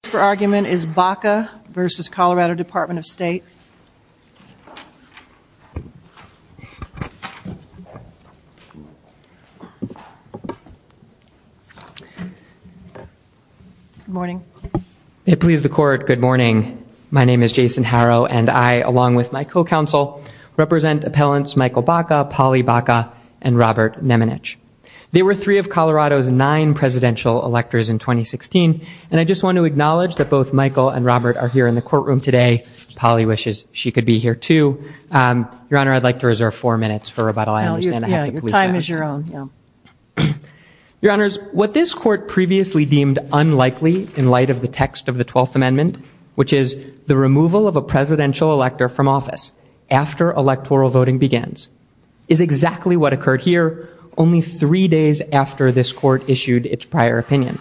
The case for argument is Baca v. Colorado Department of State. Good morning. May it please the Court, good morning. My name is Jason Harrow, and I, along with my co-counsel, represent appellants Michael Baca, Polly Baca, and Robert Nemenich. They were three of Colorado's nine presidential electors in 2016, and I just want to acknowledge that both Michael and Robert are here in the courtroom today. Polly wishes she could be here, too. Your Honor, I'd like to reserve four minutes for rebuttal. I understand I have to police that. Yeah, your time is your own, yeah. Your Honors, what this Court previously deemed unlikely in light of the text of the 12th Amendment, which is the removal of a presidential elector from office after electoral voting begins, is exactly what occurred here only three days after this Court issued its prior opinion.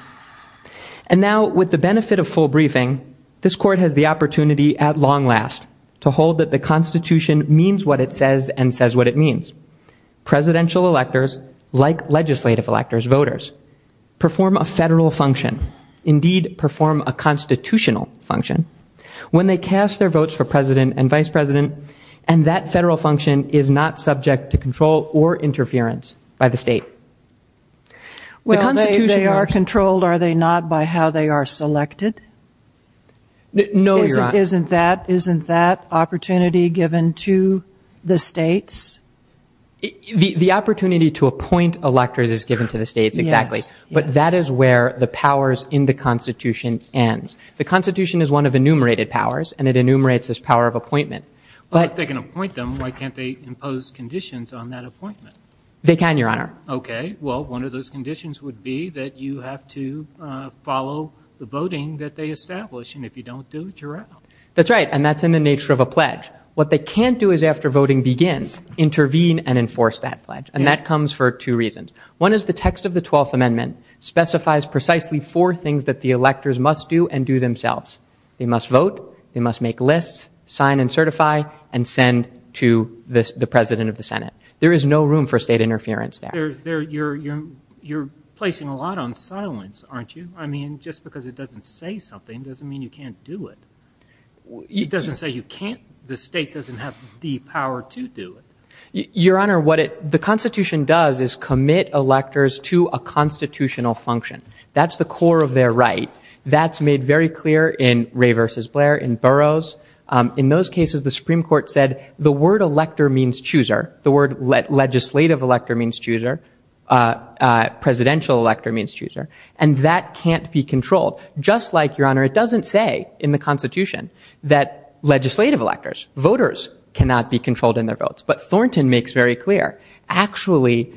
And now, with the benefit of full briefing, this Court has the opportunity, at long last, to hold that the Constitution means what it says and says what it means. Presidential electors, like legislative electors, voters, perform a federal function, indeed, perform a constitutional function, when they cast their votes for president and vice president, and that federal function is not subject to control or interference by the state. Well, they are controlled, are they not, by how they are selected? No, your Honor. Isn't that opportunity given to the states? The opportunity to appoint electors is given to the states, exactly. Yes, yes. But that is where the powers in the Constitution ends. The Constitution is one of enumerated powers, and it enumerates this power of appointment. But if they can appoint them, why can't they impose conditions on that appointment? They can, your Honor. Okay. Well, one of those conditions would be that you have to follow the voting that they establish, and if you don't do it, you're out. That's right, and that's in the nature of a pledge. What they can't do is, after voting begins, intervene and enforce that pledge, and that comes for two reasons. One is the text of the Twelfth Amendment specifies precisely four things that the electors must do and do themselves. They must vote, they must make lists, sign and certify, and send to the President of the Senate. There is no room for state interference there. You're placing a lot on silence, aren't you? I mean, just because it doesn't say something doesn't mean you can't do it. It doesn't say you can't. The state doesn't have the power to do it. Your Honor, what the Constitution does is commit electors to a constitutional function. That's the core of their right. That's made very clear in Ray v. Blair, in Burroughs. In those cases, the Supreme Court said the word elector means chooser, the word legislative elector means chooser, presidential elector means chooser, and that can't be controlled. Just like, Your Honor, it doesn't say in the Constitution that legislative electors, voters, cannot be controlled in their votes. But Thornton makes very clear. Actually,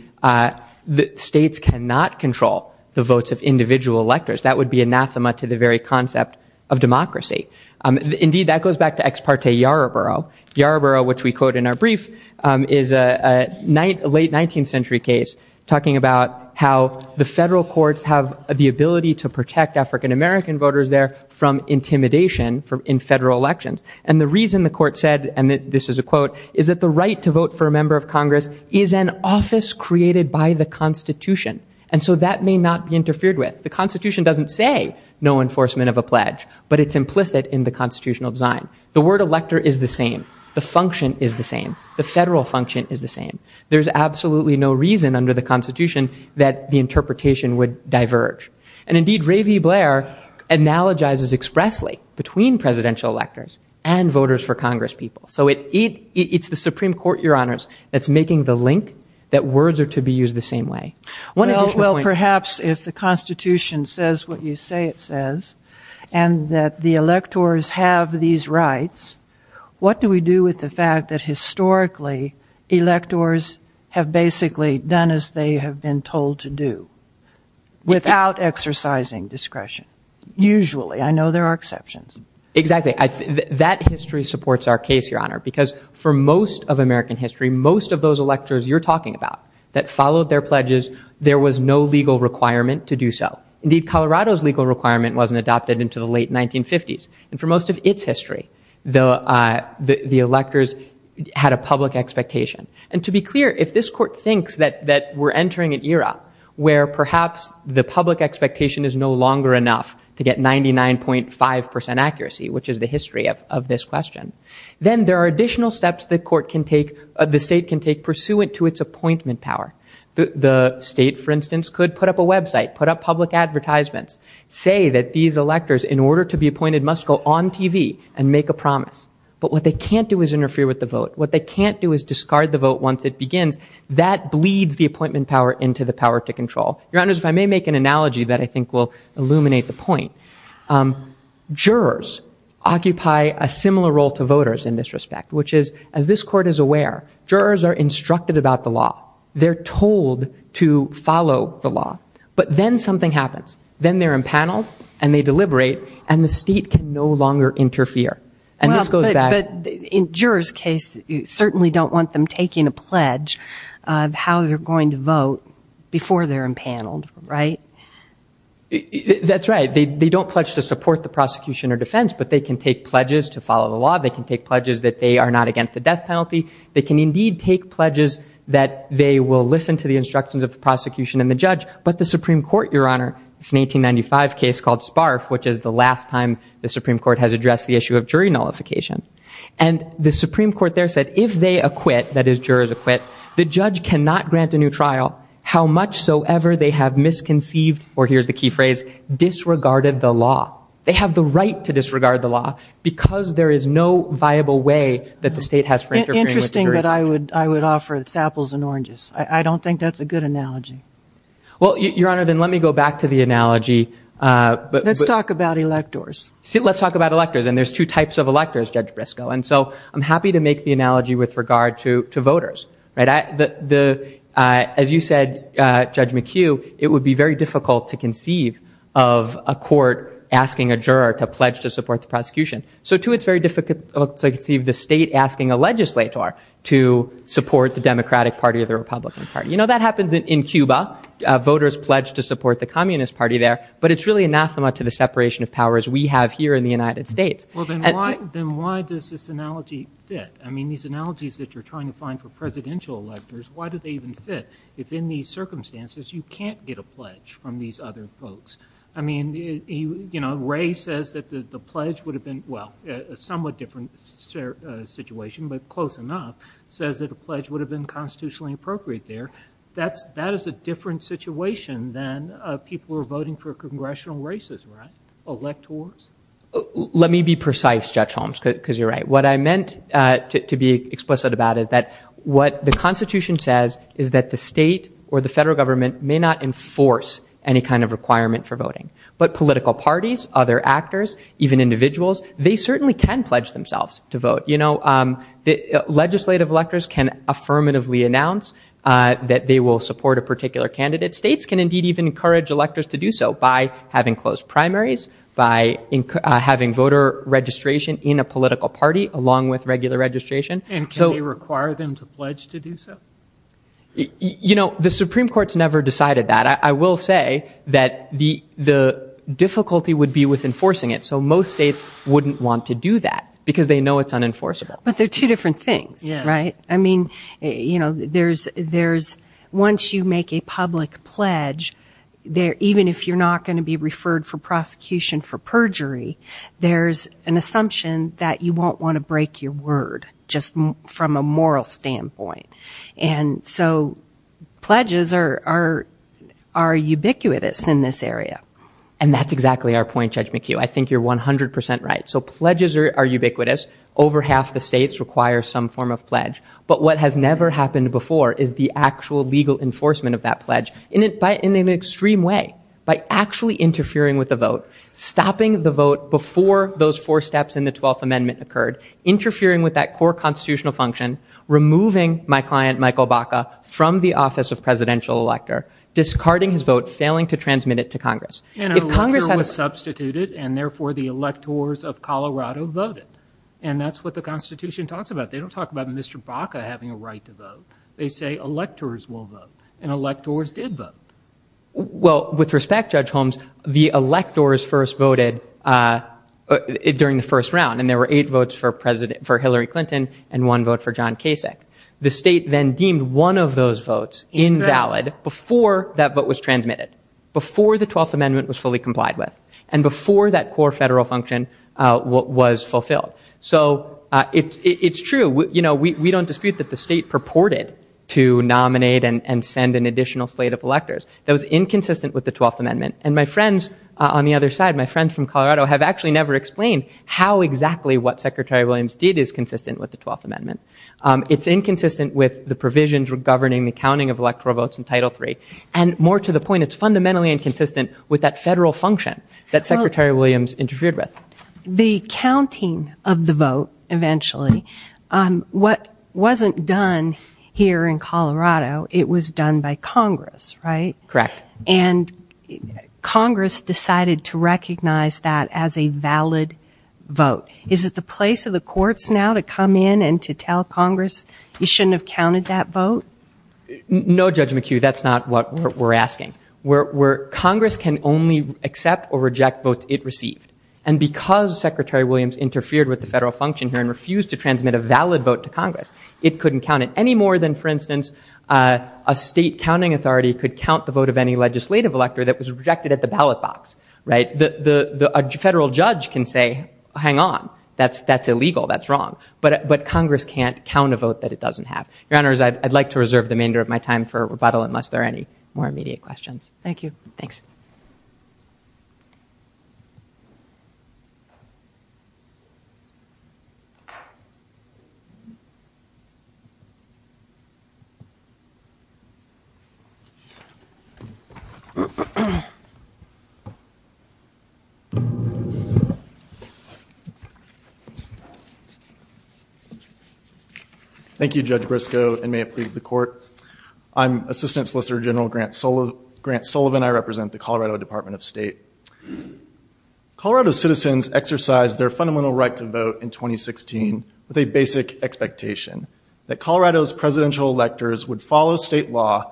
states cannot control the votes of individual electors. That would be anathema to the very concept of democracy. Indeed, that goes back to Ex parte Yarborough. Yarborough, which we quote in our brief, is a late 19th century case talking about how the federal courts have the ability to protect African American voters there from intimidation in federal elections. And the reason the court said, and this is a quote, is that the right to vote for a member of Congress is an office created by the Constitution. And so that may not be interfered with. The Constitution doesn't say no enforcement of a pledge, but it's implicit in the constitutional design. The word elector is the same. The function is the same. The federal function is the same. There's absolutely no reason under the Constitution that the interpretation would diverge. And indeed, Ray V. Blair analogizes expressly between presidential electors and voters for Congress people. So it's the Supreme Court, Your Honors, that's making the link that words are to be used the same way. Well, perhaps if the Constitution says what you say it says, and that the electors have these rights, what do we do with the fact that historically electors have basically done as they have been told to do without exercising discretion? Usually. I know there are exceptions. Exactly. That history supports our case, Your Honor, because for most of American history, most of those electors you're talking about that followed their pledges, there was no legal requirement to do so. Indeed, Colorado's legal requirement wasn't adopted until the late 1950s. And for most of its history, the electors had a public expectation. And to be clear, if this court thinks that we're entering an era where perhaps the public expectation is no longer enough to get 99.5% accuracy, which is the history of this question, then there are additional steps the state can take pursuant to its appointment power. The state, for instance, could put up a website, put up public advertisements, say that these electors, in order to be appointed, must go on TV and make a promise. But what they can't do is interfere with the vote. What they can't do is discard the vote once it begins. That bleeds the appointment power into the power to control. Your Honors, if I may make an analogy that I think will illuminate the point, jurors occupy a similar role to voters in this respect, which is, as this court is aware, jurors are instructed about the law. They're told to follow the law. But then something happens. Then they're impaneled, and they deliberate, and the state can no longer interfere. And this goes back. But in jurors' case, you certainly don't want them taking a pledge of how they're going to vote before they're impaneled, right? That's right. They don't pledge to support the prosecution or defense, but they can take pledges to follow the law. They can take pledges that they are not against the death penalty. They can indeed take pledges that they will listen to the instructions of the prosecution and the judge. But the Supreme Court, Your Honor, it's an 1895 case called Sparf, which is the last time the Supreme Court has addressed the issue of jury nullification. And the Supreme Court there said if they acquit, that is, jurors acquit, the judge cannot grant a new trial, how much so ever they have misconceived, or here's the key phrase, disregarded the law. They have the right to disregard the law because there is no viable way that the state has for interfering. Interesting that I would offer its apples and oranges. I don't think that's a good analogy. Well, Your Honor, then let me go back to the analogy. Let's talk about electors. Let's talk about electors. And there's two types of electors, Judge Brisco. And so I'm happy to make the analogy with regard to voters. As you said, Judge McHugh, it would be very difficult to conceive of a court asking a juror to pledge to support the prosecution. So, too, it's very difficult to conceive the state asking a legislator to support the Democratic Party or the Republican Party. You know, that happens in Cuba. Voters pledge to support the Communist Party there. But it's really anathema to the separation of powers we have here in the United States. Well, then why does this analogy fit? I mean, these analogies that you're trying to find for presidential electors, why do they even fit, if in these circumstances you can't get a pledge from these other folks? I mean, you know, Ray says that the pledge would have been, well, a somewhat different situation, but close enough, says that a pledge would have been constitutionally appropriate there. That is a different situation than people who are voting for congressional races, right, electors? Let me be precise, Judge Holmes, because you're right. What I meant to be explicit about is that what the Constitution says is that the state or the federal government may not enforce any kind of requirement for voting. But political parties, other actors, even individuals, they certainly can pledge themselves to vote. You know, legislative electors can affirmatively announce that they will support a particular candidate. States can indeed even encourage electors to do so by having closed primaries, by having voter registration in a political party, along with regular registration. And can they require them to pledge to do so? You know, the Supreme Court's never decided that. I will say that the difficulty would be with enforcing it. And so most states wouldn't want to do that because they know it's unenforceable. But they're two different things, right? I mean, you know, there's, once you make a public pledge, even if you're not going to be referred for prosecution for perjury, there's an assumption that you won't want to break your word, just from a moral standpoint. And so pledges are ubiquitous in this area. And that's exactly our point, Judge McHugh. I think you're 100 percent right. So pledges are ubiquitous. Over half the states require some form of pledge. But what has never happened before is the actual legal enforcement of that pledge, in an extreme way, by actually interfering with the vote, stopping the vote before those four steps in the 12th Amendment occurred, interfering with that core constitutional function, removing my client, Michael Baca, from the office of presidential elector, discarding his vote, failing to transmit it to Congress. And an elector was substituted, and therefore the electors of Colorado voted. And that's what the Constitution talks about. They don't talk about Mr. Baca having a right to vote. They say electors will vote. And electors did vote. Well, with respect, Judge Holmes, the electors first voted during the first round, and there were eight votes for Hillary Clinton and one vote for John Kasich. The state then deemed one of those votes invalid before that vote was transmitted, before the 12th Amendment was fully complied with, and before that core federal function was fulfilled. So it's true. You know, we don't dispute that the state purported to nominate and send an additional slate of electors. That was inconsistent with the 12th Amendment. And my friends on the other side, my friends from Colorado, is consistent with the 12th Amendment. It's inconsistent with the provisions governing the counting of electoral votes in Title III. And more to the point, it's fundamentally inconsistent with that federal function that Secretary Williams interfered with. The counting of the vote eventually, what wasn't done here in Colorado, it was done by Congress, right? Correct. And Congress decided to recognize that as a valid vote. Is it the place of the courts now to come in and to tell Congress, you shouldn't have counted that vote? No, Judge McHugh, that's not what we're asking. Congress can only accept or reject votes it received. And because Secretary Williams interfered with the federal function here and refused to transmit a valid vote to Congress, it couldn't count it any more than, for instance, a state counting authority could count the vote of any legislative elector that was rejected at the ballot box, right? A federal judge can say, hang on, that's illegal, that's wrong. But Congress can't count a vote that it doesn't have. Your Honors, I'd like to reserve the remainder of my time for rebuttal unless there are any more immediate questions. Thank you. Thanks. Thank you, Judge Briscoe, and may it please the Court. I'm Assistant Solicitor General Grant Sullivan. I represent the Colorado Department of State. Colorado citizens exercised their fundamental right to vote in 2016 with a basic expectation, that Colorado's presidential electors would follow state law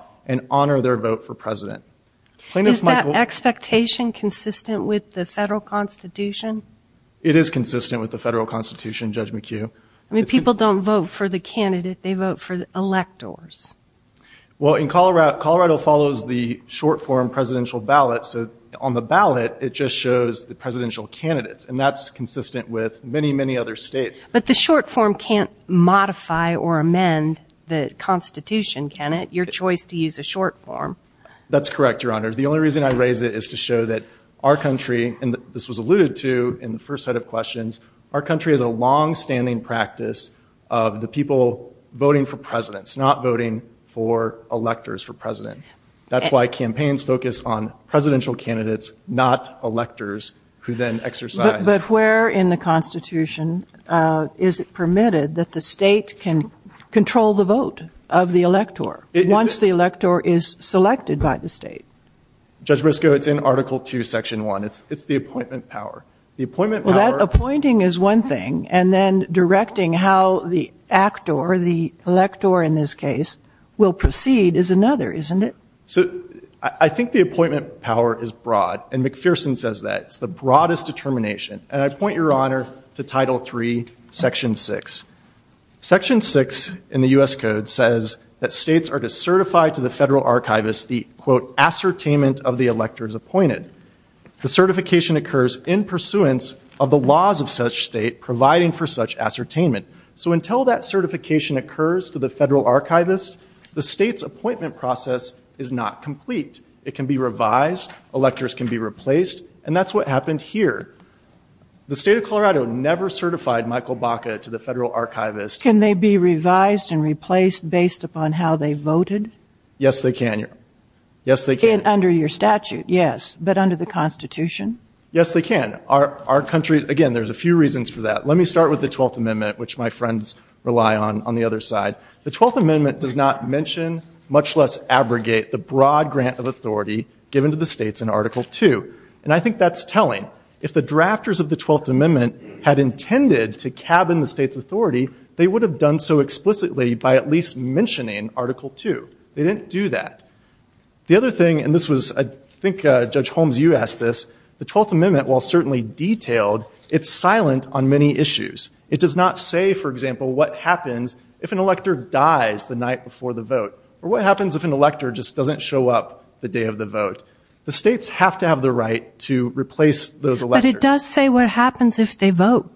Is that expectation consistent with the state of Colorado? It is consistent with the federal constitution, Judge McHugh. I mean, people don't vote for the candidate, they vote for the electors. Well, in Colorado, Colorado follows the short form presidential ballot, so on the ballot it just shows the presidential candidates, and that's consistent with many, many other states. But the short form can't modify or amend the constitution, can it? Your choice to use a short form. That's correct, Your Honors. The only reason I raise it is to show that our country, and this was alluded to in the first set of questions, our country has a longstanding practice of the people voting for presidents, not voting for electors for president. That's why campaigns focus on presidential candidates, not electors, who then exercise. But where in the constitution is it permitted that the state can control the vote of the elector once the elector is selected by the state? Judge Briscoe, it's in Article 2, Section 1. It's the appointment power. Well, that appointing is one thing, and then directing how the actor, the elector in this case, will proceed is another, isn't it? So I think the appointment power is broad, and McPherson says that. It's the broadest determination. And I point, Your Honor, to Title 3, Section 6. Section 6 in the U.S. Code says that states are to certify to the federal archivist the, quote, ascertainment of the electors appointed. The certification occurs in pursuance of the laws of such state providing for such ascertainment. So until that certification occurs to the federal archivist, the state's appointment process is not complete. It can be revised, electors can be replaced, and that's what happened here. The state of Colorado never certified Michael Baca to the federal archivist. Can they be revised and replaced based upon how they voted? Yes, they can, Your Honor. Under your statute, yes, but under the Constitution? Yes, they can. Our country, again, there's a few reasons for that. Let me start with the Twelfth Amendment, which my friends rely on on the other side. The Twelfth Amendment does not mention, much less abrogate, the broad grant of authority given to the states in Article 2. And I think that's telling. If the drafters of the Twelfth Amendment had intended to cabin the state's authority, they would have done so explicitly by at least mentioning Article 2. They didn't do that. The other thing, and this was, I think, Judge Holmes, you asked this, the Twelfth Amendment, while certainly detailed, it's silent on many issues. It does not say, for example, what happens if an elector dies the night before the vote or what happens if an elector just doesn't show up the day of the vote. The states have to have the right to replace those electors. But it does say what happens if they vote.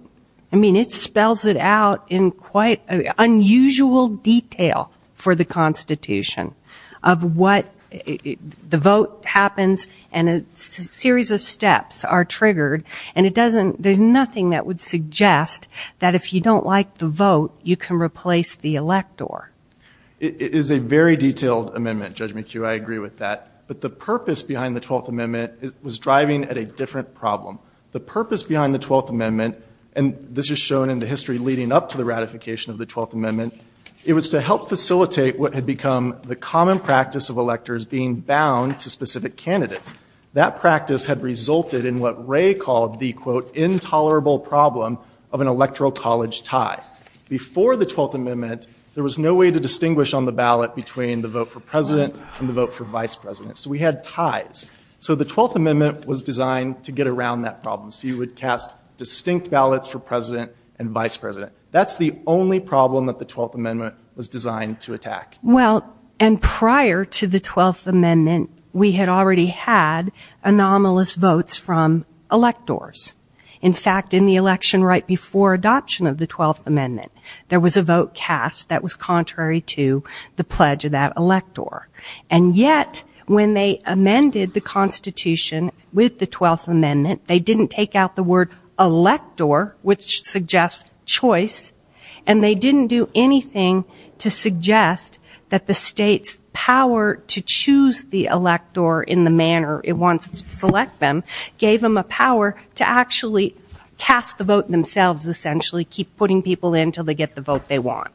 I mean, it spells it out in quite unusual detail for the Constitution of what the vote happens and a series of steps are triggered, and there's nothing that would suggest that if you don't like the vote, you can replace the elector. It is a very detailed amendment, Judge McHugh. I agree with that. But the purpose behind the Twelfth Amendment was driving at a different problem. The purpose behind the Twelfth Amendment, and this is shown in the history leading up to the ratification of the Twelfth Amendment, it was to help facilitate what had become the common practice of electors being bound to specific candidates. That practice had resulted in what Ray called the, quote, intolerable problem of an electoral college tie. Before the Twelfth Amendment, there was no way to distinguish on the ballot between the vote for president and the vote for vice president. So we had ties. So the Twelfth Amendment was designed to get around that problem. So you would cast distinct ballots for president and vice president. That's the only problem that the Twelfth Amendment was designed to attack. Well, and prior to the Twelfth Amendment, we had already had anomalous votes from electors. In fact, in the election right before adoption of the Twelfth Amendment, there was a vote cast that was contrary to the pledge of that elector. And yet, when they amended the Constitution with the Twelfth Amendment, they didn't take out the word elector, which suggests choice, and they didn't do anything to suggest that the state's power to choose the elector in the manner it wants to select them gave them a power to actually cast the vote themselves, essentially keep putting people in until they get the vote they want.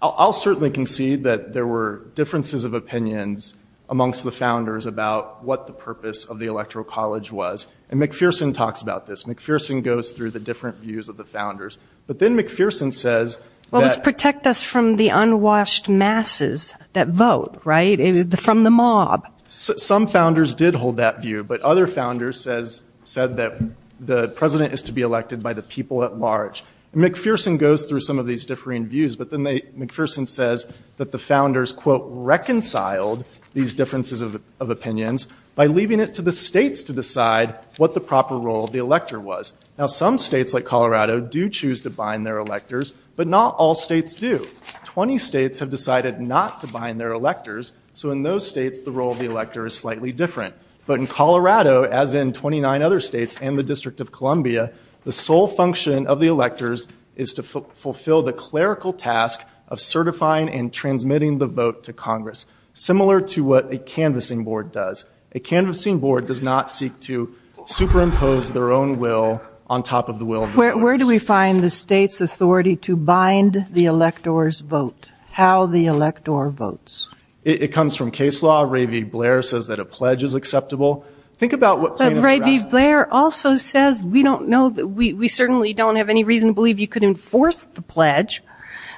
I'll certainly concede that there were differences of opinions amongst the founders about what the purpose of the Electoral College was. And McPherson talks about this. McPherson goes through the different views of the founders. But then McPherson says that... Well, it was protect us from the unwashed masses that vote, right, from the mob. Some founders did hold that view, but other founders said that the president is to be elected by the people at large. McPherson goes through some of these differing views, but then McPherson says that the founders, quote, reconciled these differences of opinions by leaving it to the states to decide what the proper role of the elector was. Now, some states, like Colorado, do choose to bind their electors, but not all states do. Twenty states have decided not to bind their electors, so in those states, the role of the elector is slightly different. But in Colorado, as in 29 other states and the District of Columbia, the sole function of the electors is to fulfill the clerical task of certifying and transmitting the vote to Congress, similar to what a canvassing board does. A canvassing board does not seek to superimpose their own will on top of the will of the voters. Where do we find the state's authority to bind the electors' vote, how the elector votes? It comes from case law. Ray V. Blair says that a pledge is acceptable. Think about what... But Ray V. Blair also says we don't know... We certainly don't have any reason to believe you could enforce the pledge,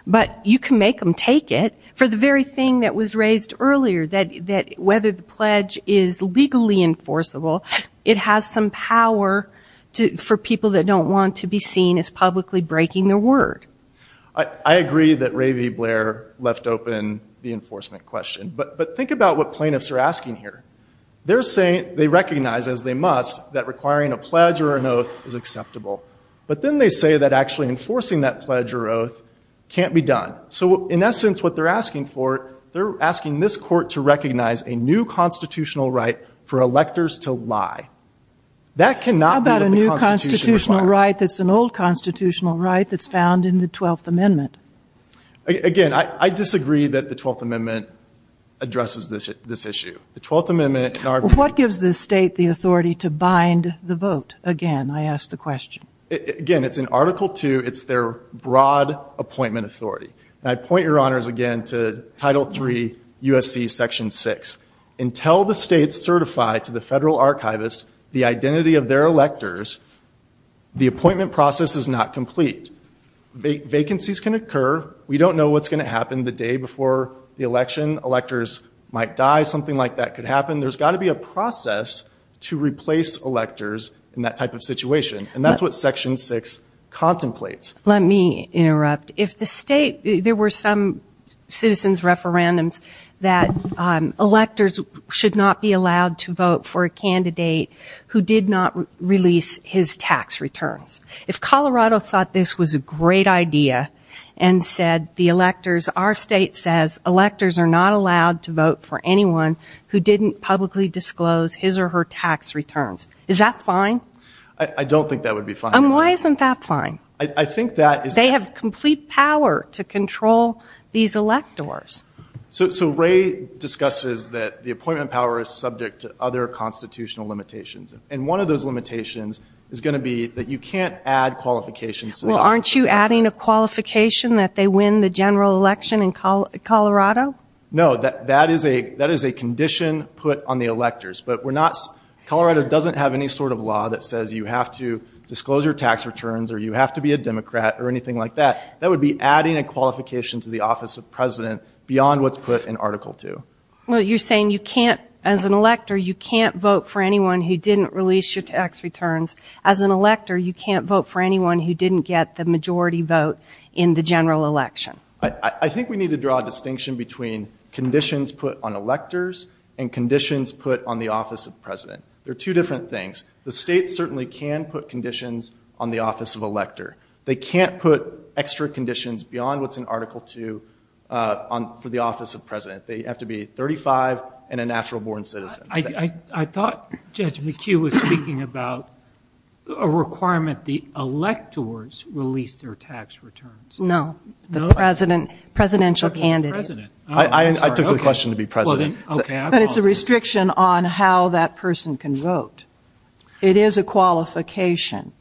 but you can make them take it for the very thing that was raised earlier, that whether the pledge is legally enforceable, it has some power for people that don't want to be seen as publicly breaking their word. I agree that Ray V. Blair left open the enforcement question, but think about what plaintiffs are asking here. They're saying... They recognize, as they must, that requiring a pledge or an oath is acceptable. But then they say that actually enforcing that pledge or oath can't be done. So, in essence, what they're asking for, they're asking this court to recognize a new constitutional right for electors to lie. That cannot be what the Constitution requires. How about a new constitutional right that's an old constitutional right that's found in the 12th Amendment? Again, I disagree that the 12th Amendment addresses this issue. The 12th Amendment... What gives the state the authority to bind the vote? Again, I ask the question. Again, it's in Article II. It's their broad appointment authority. I point, Your Honors, again, to Title III, USC Section 6. Until the state's certified to the federal archivist the identity of their electors, the appointment process is not complete. Vacancies can occur. We don't know what's going to happen the day before the election. Electors might die. Something like that could happen. There's got to be a process to replace electors in that type of situation. That's what Section 6 contemplates. Let me interrupt. If the state... There were some citizens' referendums that electors should not be allowed to vote for a candidate who did not release his tax returns. If Colorado thought this was a great idea and said the electors... Our state says electors are not allowed to vote for anyone who didn't publicly disclose his or her tax returns. Is that fine? I don't think that would be fine. Why isn't that fine? I think that... They have complete power to control these electors. So Ray discusses that the appointment power is subject to other constitutional limitations. And one of those limitations is going to be that you can't add qualifications... Well, aren't you adding a qualification that they win the general election in Colorado? No. That is a condition put on the electors. But we're not... Colorado doesn't have any sort of law that says you have to disclose your tax returns or you have to be a Democrat or anything like that. That would be adding a qualification to the office of president beyond what's put in Article 2. Well, you're saying you can't... As an elector, you can't vote for anyone who didn't release your tax returns. As an elector, you can't vote for anyone who didn't get the majority vote in the general election. I think we need to draw a distinction between conditions put on electors and conditions put on the office of president. They're two different things. The state certainly can put conditions on the office of elector. They can't put extra conditions beyond what's in Article 2 for the office of president. They have to be 35 and a natural-born citizen. I thought Judge McHugh was speaking about a requirement the electors release their tax returns. No. Presidential candidate. I took the question to be president. But it's a restriction on how that person can vote. It is a qualification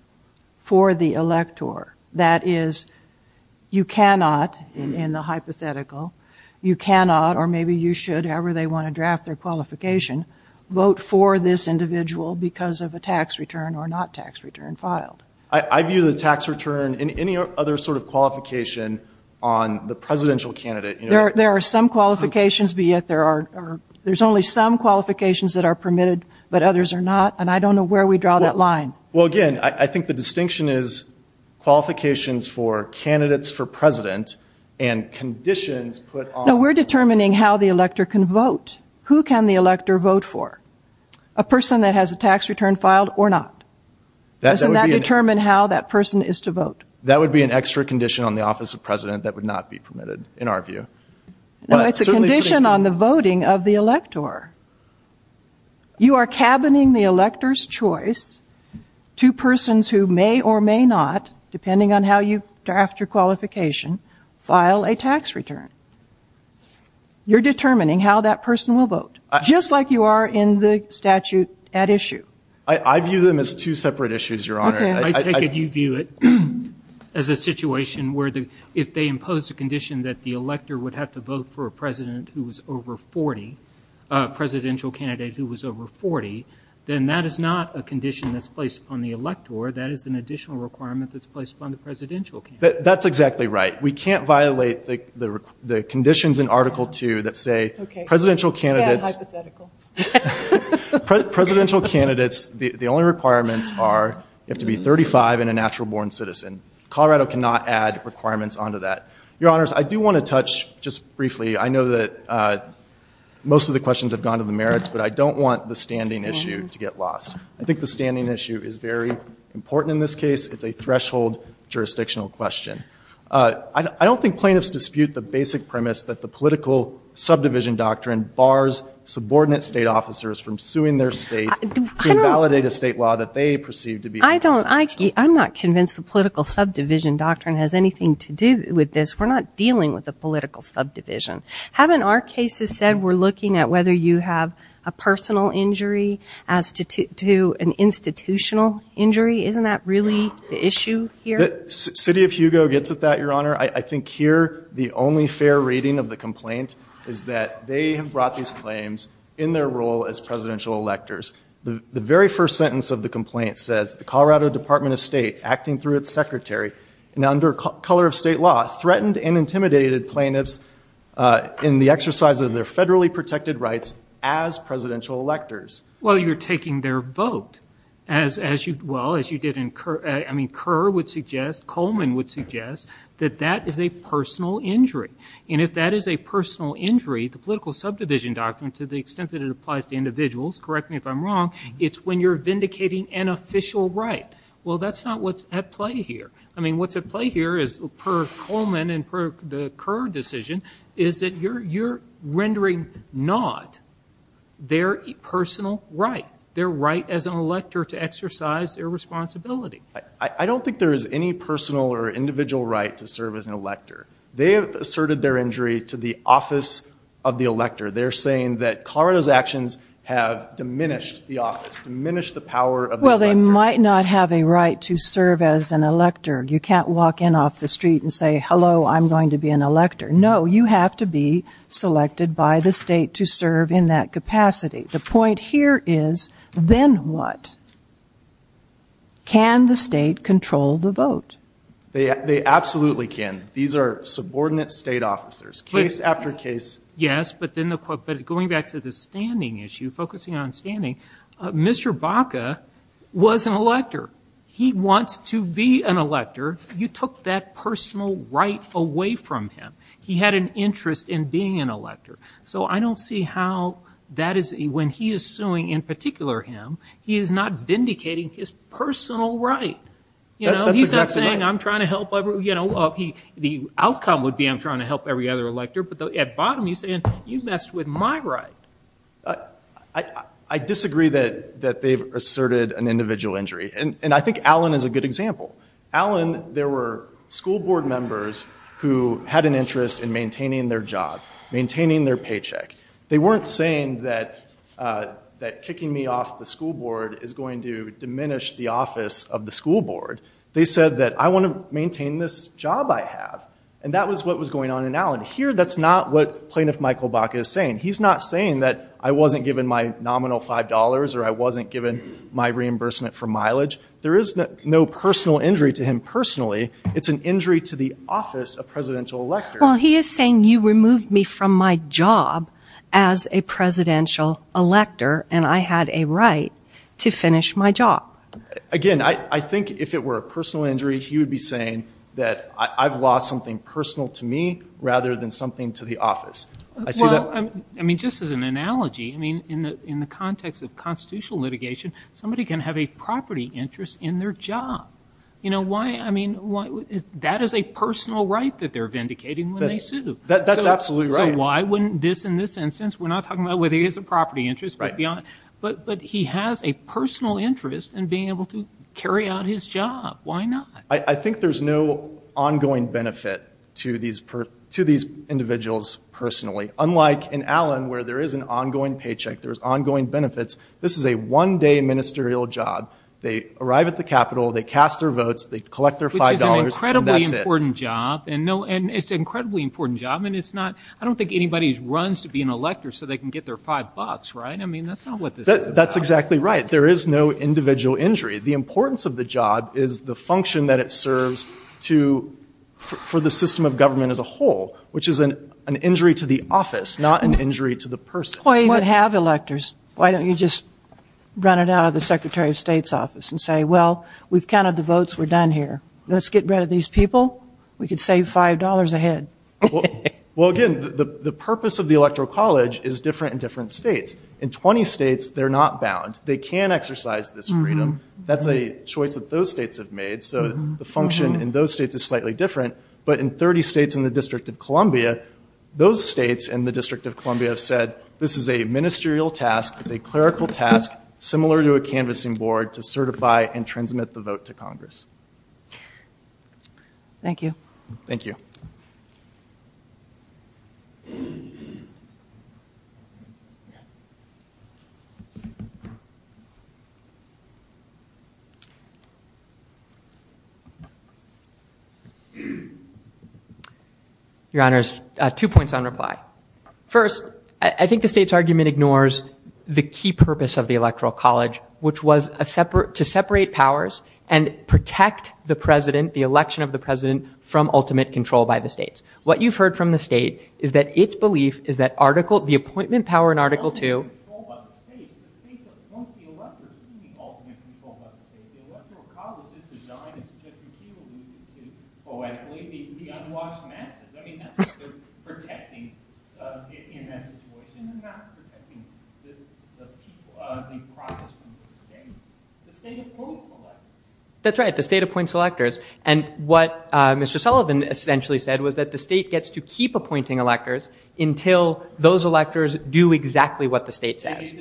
for the elector. That is, you cannot, in the hypothetical, you cannot or maybe you should, however they want to draft their qualification, vote for this individual because of a tax return or not tax return filed. I view the tax return in any other sort of qualification on the presidential candidate. There are some qualifications, but yet there are, there's only some qualifications that are permitted, but others are not. And I don't know where we draw that line. Well, again, I think the distinction is qualifications for candidates for president and conditions put on... No, we're determining how the elector can vote. Who can the elector vote for? A person that has a tax return filed or not. Doesn't that determine how that person is to vote? That would be an extra condition on the office of president that would not be permitted, in our view. No, it's a condition on the voting of the elector. You are cabining the elector's choice to persons who may or may not, depending on how you draft your qualification, file a tax return. You're determining how that person will vote, just like you are in the statute at issue. I view them as two separate issues, Your Honor. I take it you view it as a situation where if they impose a condition that the elector would have to vote for a president who was over 40, a presidential candidate who was over 40, then that is not a condition that's placed upon the elector. That is an additional requirement that's placed upon the presidential candidate. That's exactly right. We can't violate the conditions in Article 2 that say presidential candidates... Yeah, hypothetical. Presidential candidates, the only requirements are you have to be 35 and a natural-born citizen. Colorado cannot add requirements onto that. Your Honors, I do want to touch, just briefly, I know that most of the questions have gone to the merits, but I don't want the standing issue to get lost. I think the standing issue is very important in this case. It's a threshold jurisdictional question. I don't think plaintiffs dispute the basic premise that the political subdivision doctrine bars subordinate state officers from suing their state to invalidate a state law that they perceive to be... I don't... I'm not convinced the political subdivision doctrine has anything to do with this. We're not dealing with a political subdivision. Haven't our cases said we're looking at whether you have a personal injury as to an institutional injury? Isn't that really the issue here? City of Hugo gets at that, Your Honor. I think here the only fair rating of the complaint is that they have brought these claims in their role as presidential electors. The very first sentence of the complaint says, the Colorado Department of State, acting through its secretary, and under color of state law, threatened and intimidated plaintiffs in the exercise of their federally protected rights as presidential electors. Well, you're taking their vote. As you did in Kerr... I mean, Kerr would suggest, Coleman would suggest, that that is a personal injury. And if that is a personal injury, the political subdivision doctrine, to the extent that it applies to individuals, correct me if I'm wrong, it's when you're vindicating an official right. Well, that's not what's at play here. I mean, what's at play here is, per Coleman and per the Kerr decision, is that you're rendering not their personal right, their right as an elector to exercise their responsibility. I don't think there is any personal or individual right to serve as an elector. They have asserted their injury to the office of the elector. They're saying that Colorado's actions have diminished the office, diminished the power of the elector. Well, they might not have a right to serve as an elector. You can't walk in off the street and say, hello, I'm going to be an elector. No, you have to be selected by the state to serve in that capacity. The point here is, then what? Can the state control the vote? They absolutely can. These are subordinate state officers. Case after case. Yes, but going back to the standing issue, focusing on standing, Mr. Baca was an elector. He wants to be an elector. You took that personal right away from him. He had an interest in being an elector. So I don't see how that is, when he is suing in particular him, he is not vindicating his personal right. That's exactly right. He's not saying, I'm trying to help everyone. The outcome would be, I'm trying to help every other elector. But at bottom, he's saying, you messed with my right. I disagree that they've asserted an individual injury. And I think Allen is a good example. Allen, there were school board members who had an interest in maintaining their job, maintaining their paycheck. They weren't saying that kicking me off the school board is going to diminish the office of the school board. They said that I want to maintain this job I have. And that was what was going on in Allen. Here, that's not what Plaintiff Michael Baca is saying. He's not saying that I wasn't given my nominal $5 or I wasn't given my reimbursement for mileage. There is no personal injury to him personally. It's an injury to the office of presidential elector. Well, he is saying you removed me from my job as a presidential elector, and I had a right to finish my job. Again, I think if it were a personal injury, he would be saying that I've lost something personal to me rather than something to the office. Well, I mean, just as an analogy, I mean, in the context of constitutional litigation, somebody can have a property interest in their job. You know, why, I mean, that is a personal right that they're vindicating when they sue. That's absolutely right. So why wouldn't this in this instance, we're not talking about whether he has a property interest, but he has a personal interest in being able to carry out his job. Why not? I think there's no ongoing benefit to these individuals personally, unlike in Allen where there is an ongoing paycheck, there's ongoing benefits. This is a one-day ministerial job. They arrive at the Capitol, they cast their votes, they collect their $5, and that's it. Which is an incredibly important job, and it's an incredibly important job, and it's not, I don't think anybody runs to be an elector so they can get their $5, right? I mean, that's not what this is about. That's exactly right. There is no individual injury. The importance of the job is the function that it serves for the system of government as a whole, which is an injury to the office, not an injury to the person. Why even have electors? Why don't you just run it out of the Secretary of State's office and say, well, we've counted the votes, we're done here. Let's get rid of these people. We could save $5 a head. Well, again, the purpose of the electoral college is different in different states. In 20 states, they're not bound. They can exercise this freedom. That's a choice that those states have made, so the function in those states is slightly different. But in 30 states and the District of Columbia, those states and the District of Columbia have said, this is a ministerial task, it's a clerical task, similar to a canvassing board, to certify and transmit the vote to Congress. Thank you. Thank you. Your Honors, two points on reply. First, I think the state's argument ignores the key purpose of the electoral college, which was to separate powers and protect the president, the election of the president, from ultimate control by the states. What you've heard from the state is that its belief is that the appointment power in Article II... ...the process from the state. The state appoints electors. That's right. The state appoints electors. And what Mr. Sullivan essentially said was that the state gets to keep appointing electors until those electors do exactly what the state says.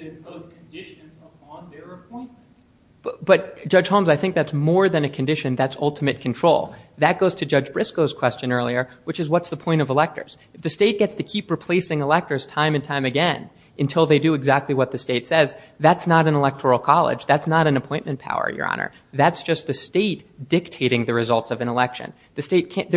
But, Judge Holmes, I think that's more than a condition. That's ultimate control. That goes to Judge Briscoe's question earlier, which is, what's the point of electors? If the state gets to keep replacing electors time and time again until they do exactly what the state says, that's not an electoral college. That's not an appointment power, Your Honor. That's just the state dictating the results of an election. The state can't...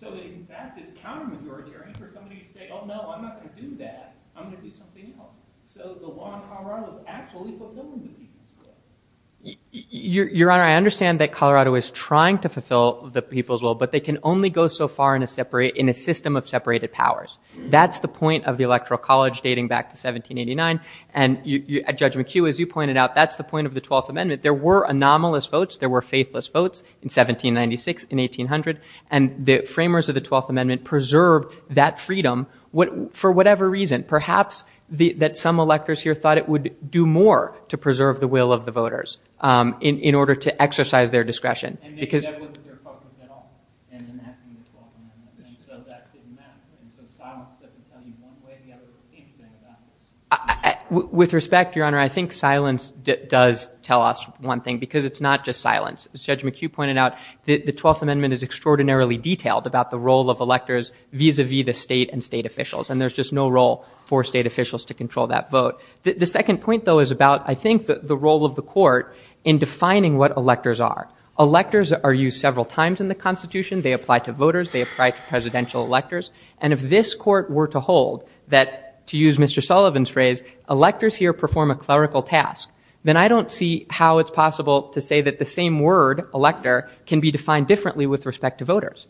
So, in fact, it's counter-majoritarian for somebody to say, oh, no, I'm not going to do that. I'm going to do something else. So the law in Colorado is actually fulfilling the people's will. Your Honor, I understand that Colorado is trying to fulfill the people's will, but they can only go so far in a system of separated powers. That's the point of the electoral college dating back to 1789. And, Judge McHugh, as you pointed out, that's the point of the 12th Amendment. There were anomalous votes. There were faithless votes in 1796 and 1800. And the framers of the 12th Amendment preserved that freedom for whatever reason. Perhaps that some electors here thought it would do more to preserve the will of the voters in order to exercise their discretion. With respect, Your Honor, I think silence does tell us one thing because it's not just silence. As Judge McHugh pointed out, the 12th Amendment is extraordinarily detailed about the role of electors vis-a-vis the state and state officials. And there's just no role for state officials to control that vote. The second point, though, is about, I think, the role of the court in defining what electors are. Electors are used several times in the Constitution. They apply to voters. They apply to presidential electors. And if this court were to hold that, to use Mr. Sullivan's phrase, electors here perform a clerical task, then I don't see how it's possible to say that the same word, elector, can be defined differently with respect to voters.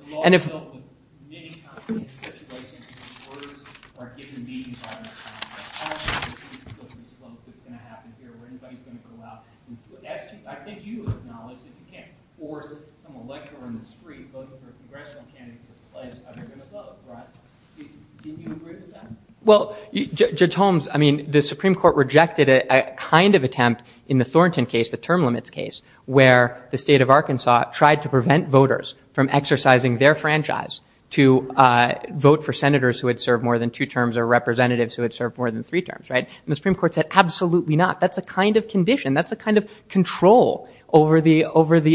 Well, Judge Holmes, I mean, the Supreme Court rejected a kind of attempt in the Thornton case, the term limits case, where the state of Arkansas tried to prevent voters from exercising their franchise to vote for senators who had served more than two terms or representatives who had served more than three terms. And the Supreme Court said, absolutely not. That's a kind of condition. That's a kind of control over the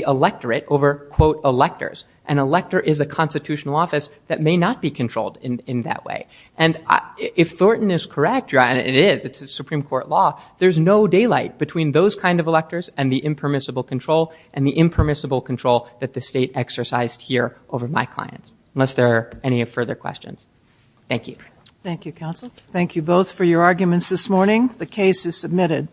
electorate, over, quote, electors. An elector is a constitutional office that may not be controlled in that way. And if Thornton is correct, and it is, it's a Supreme Court law, there's no daylight between those kind of electors and the impermissible control and the impermissible control that the state exercised here over my clients, unless there are any further questions. Thank you. Thank you, counsel. Thank you both for your arguments this morning. The case is submitted.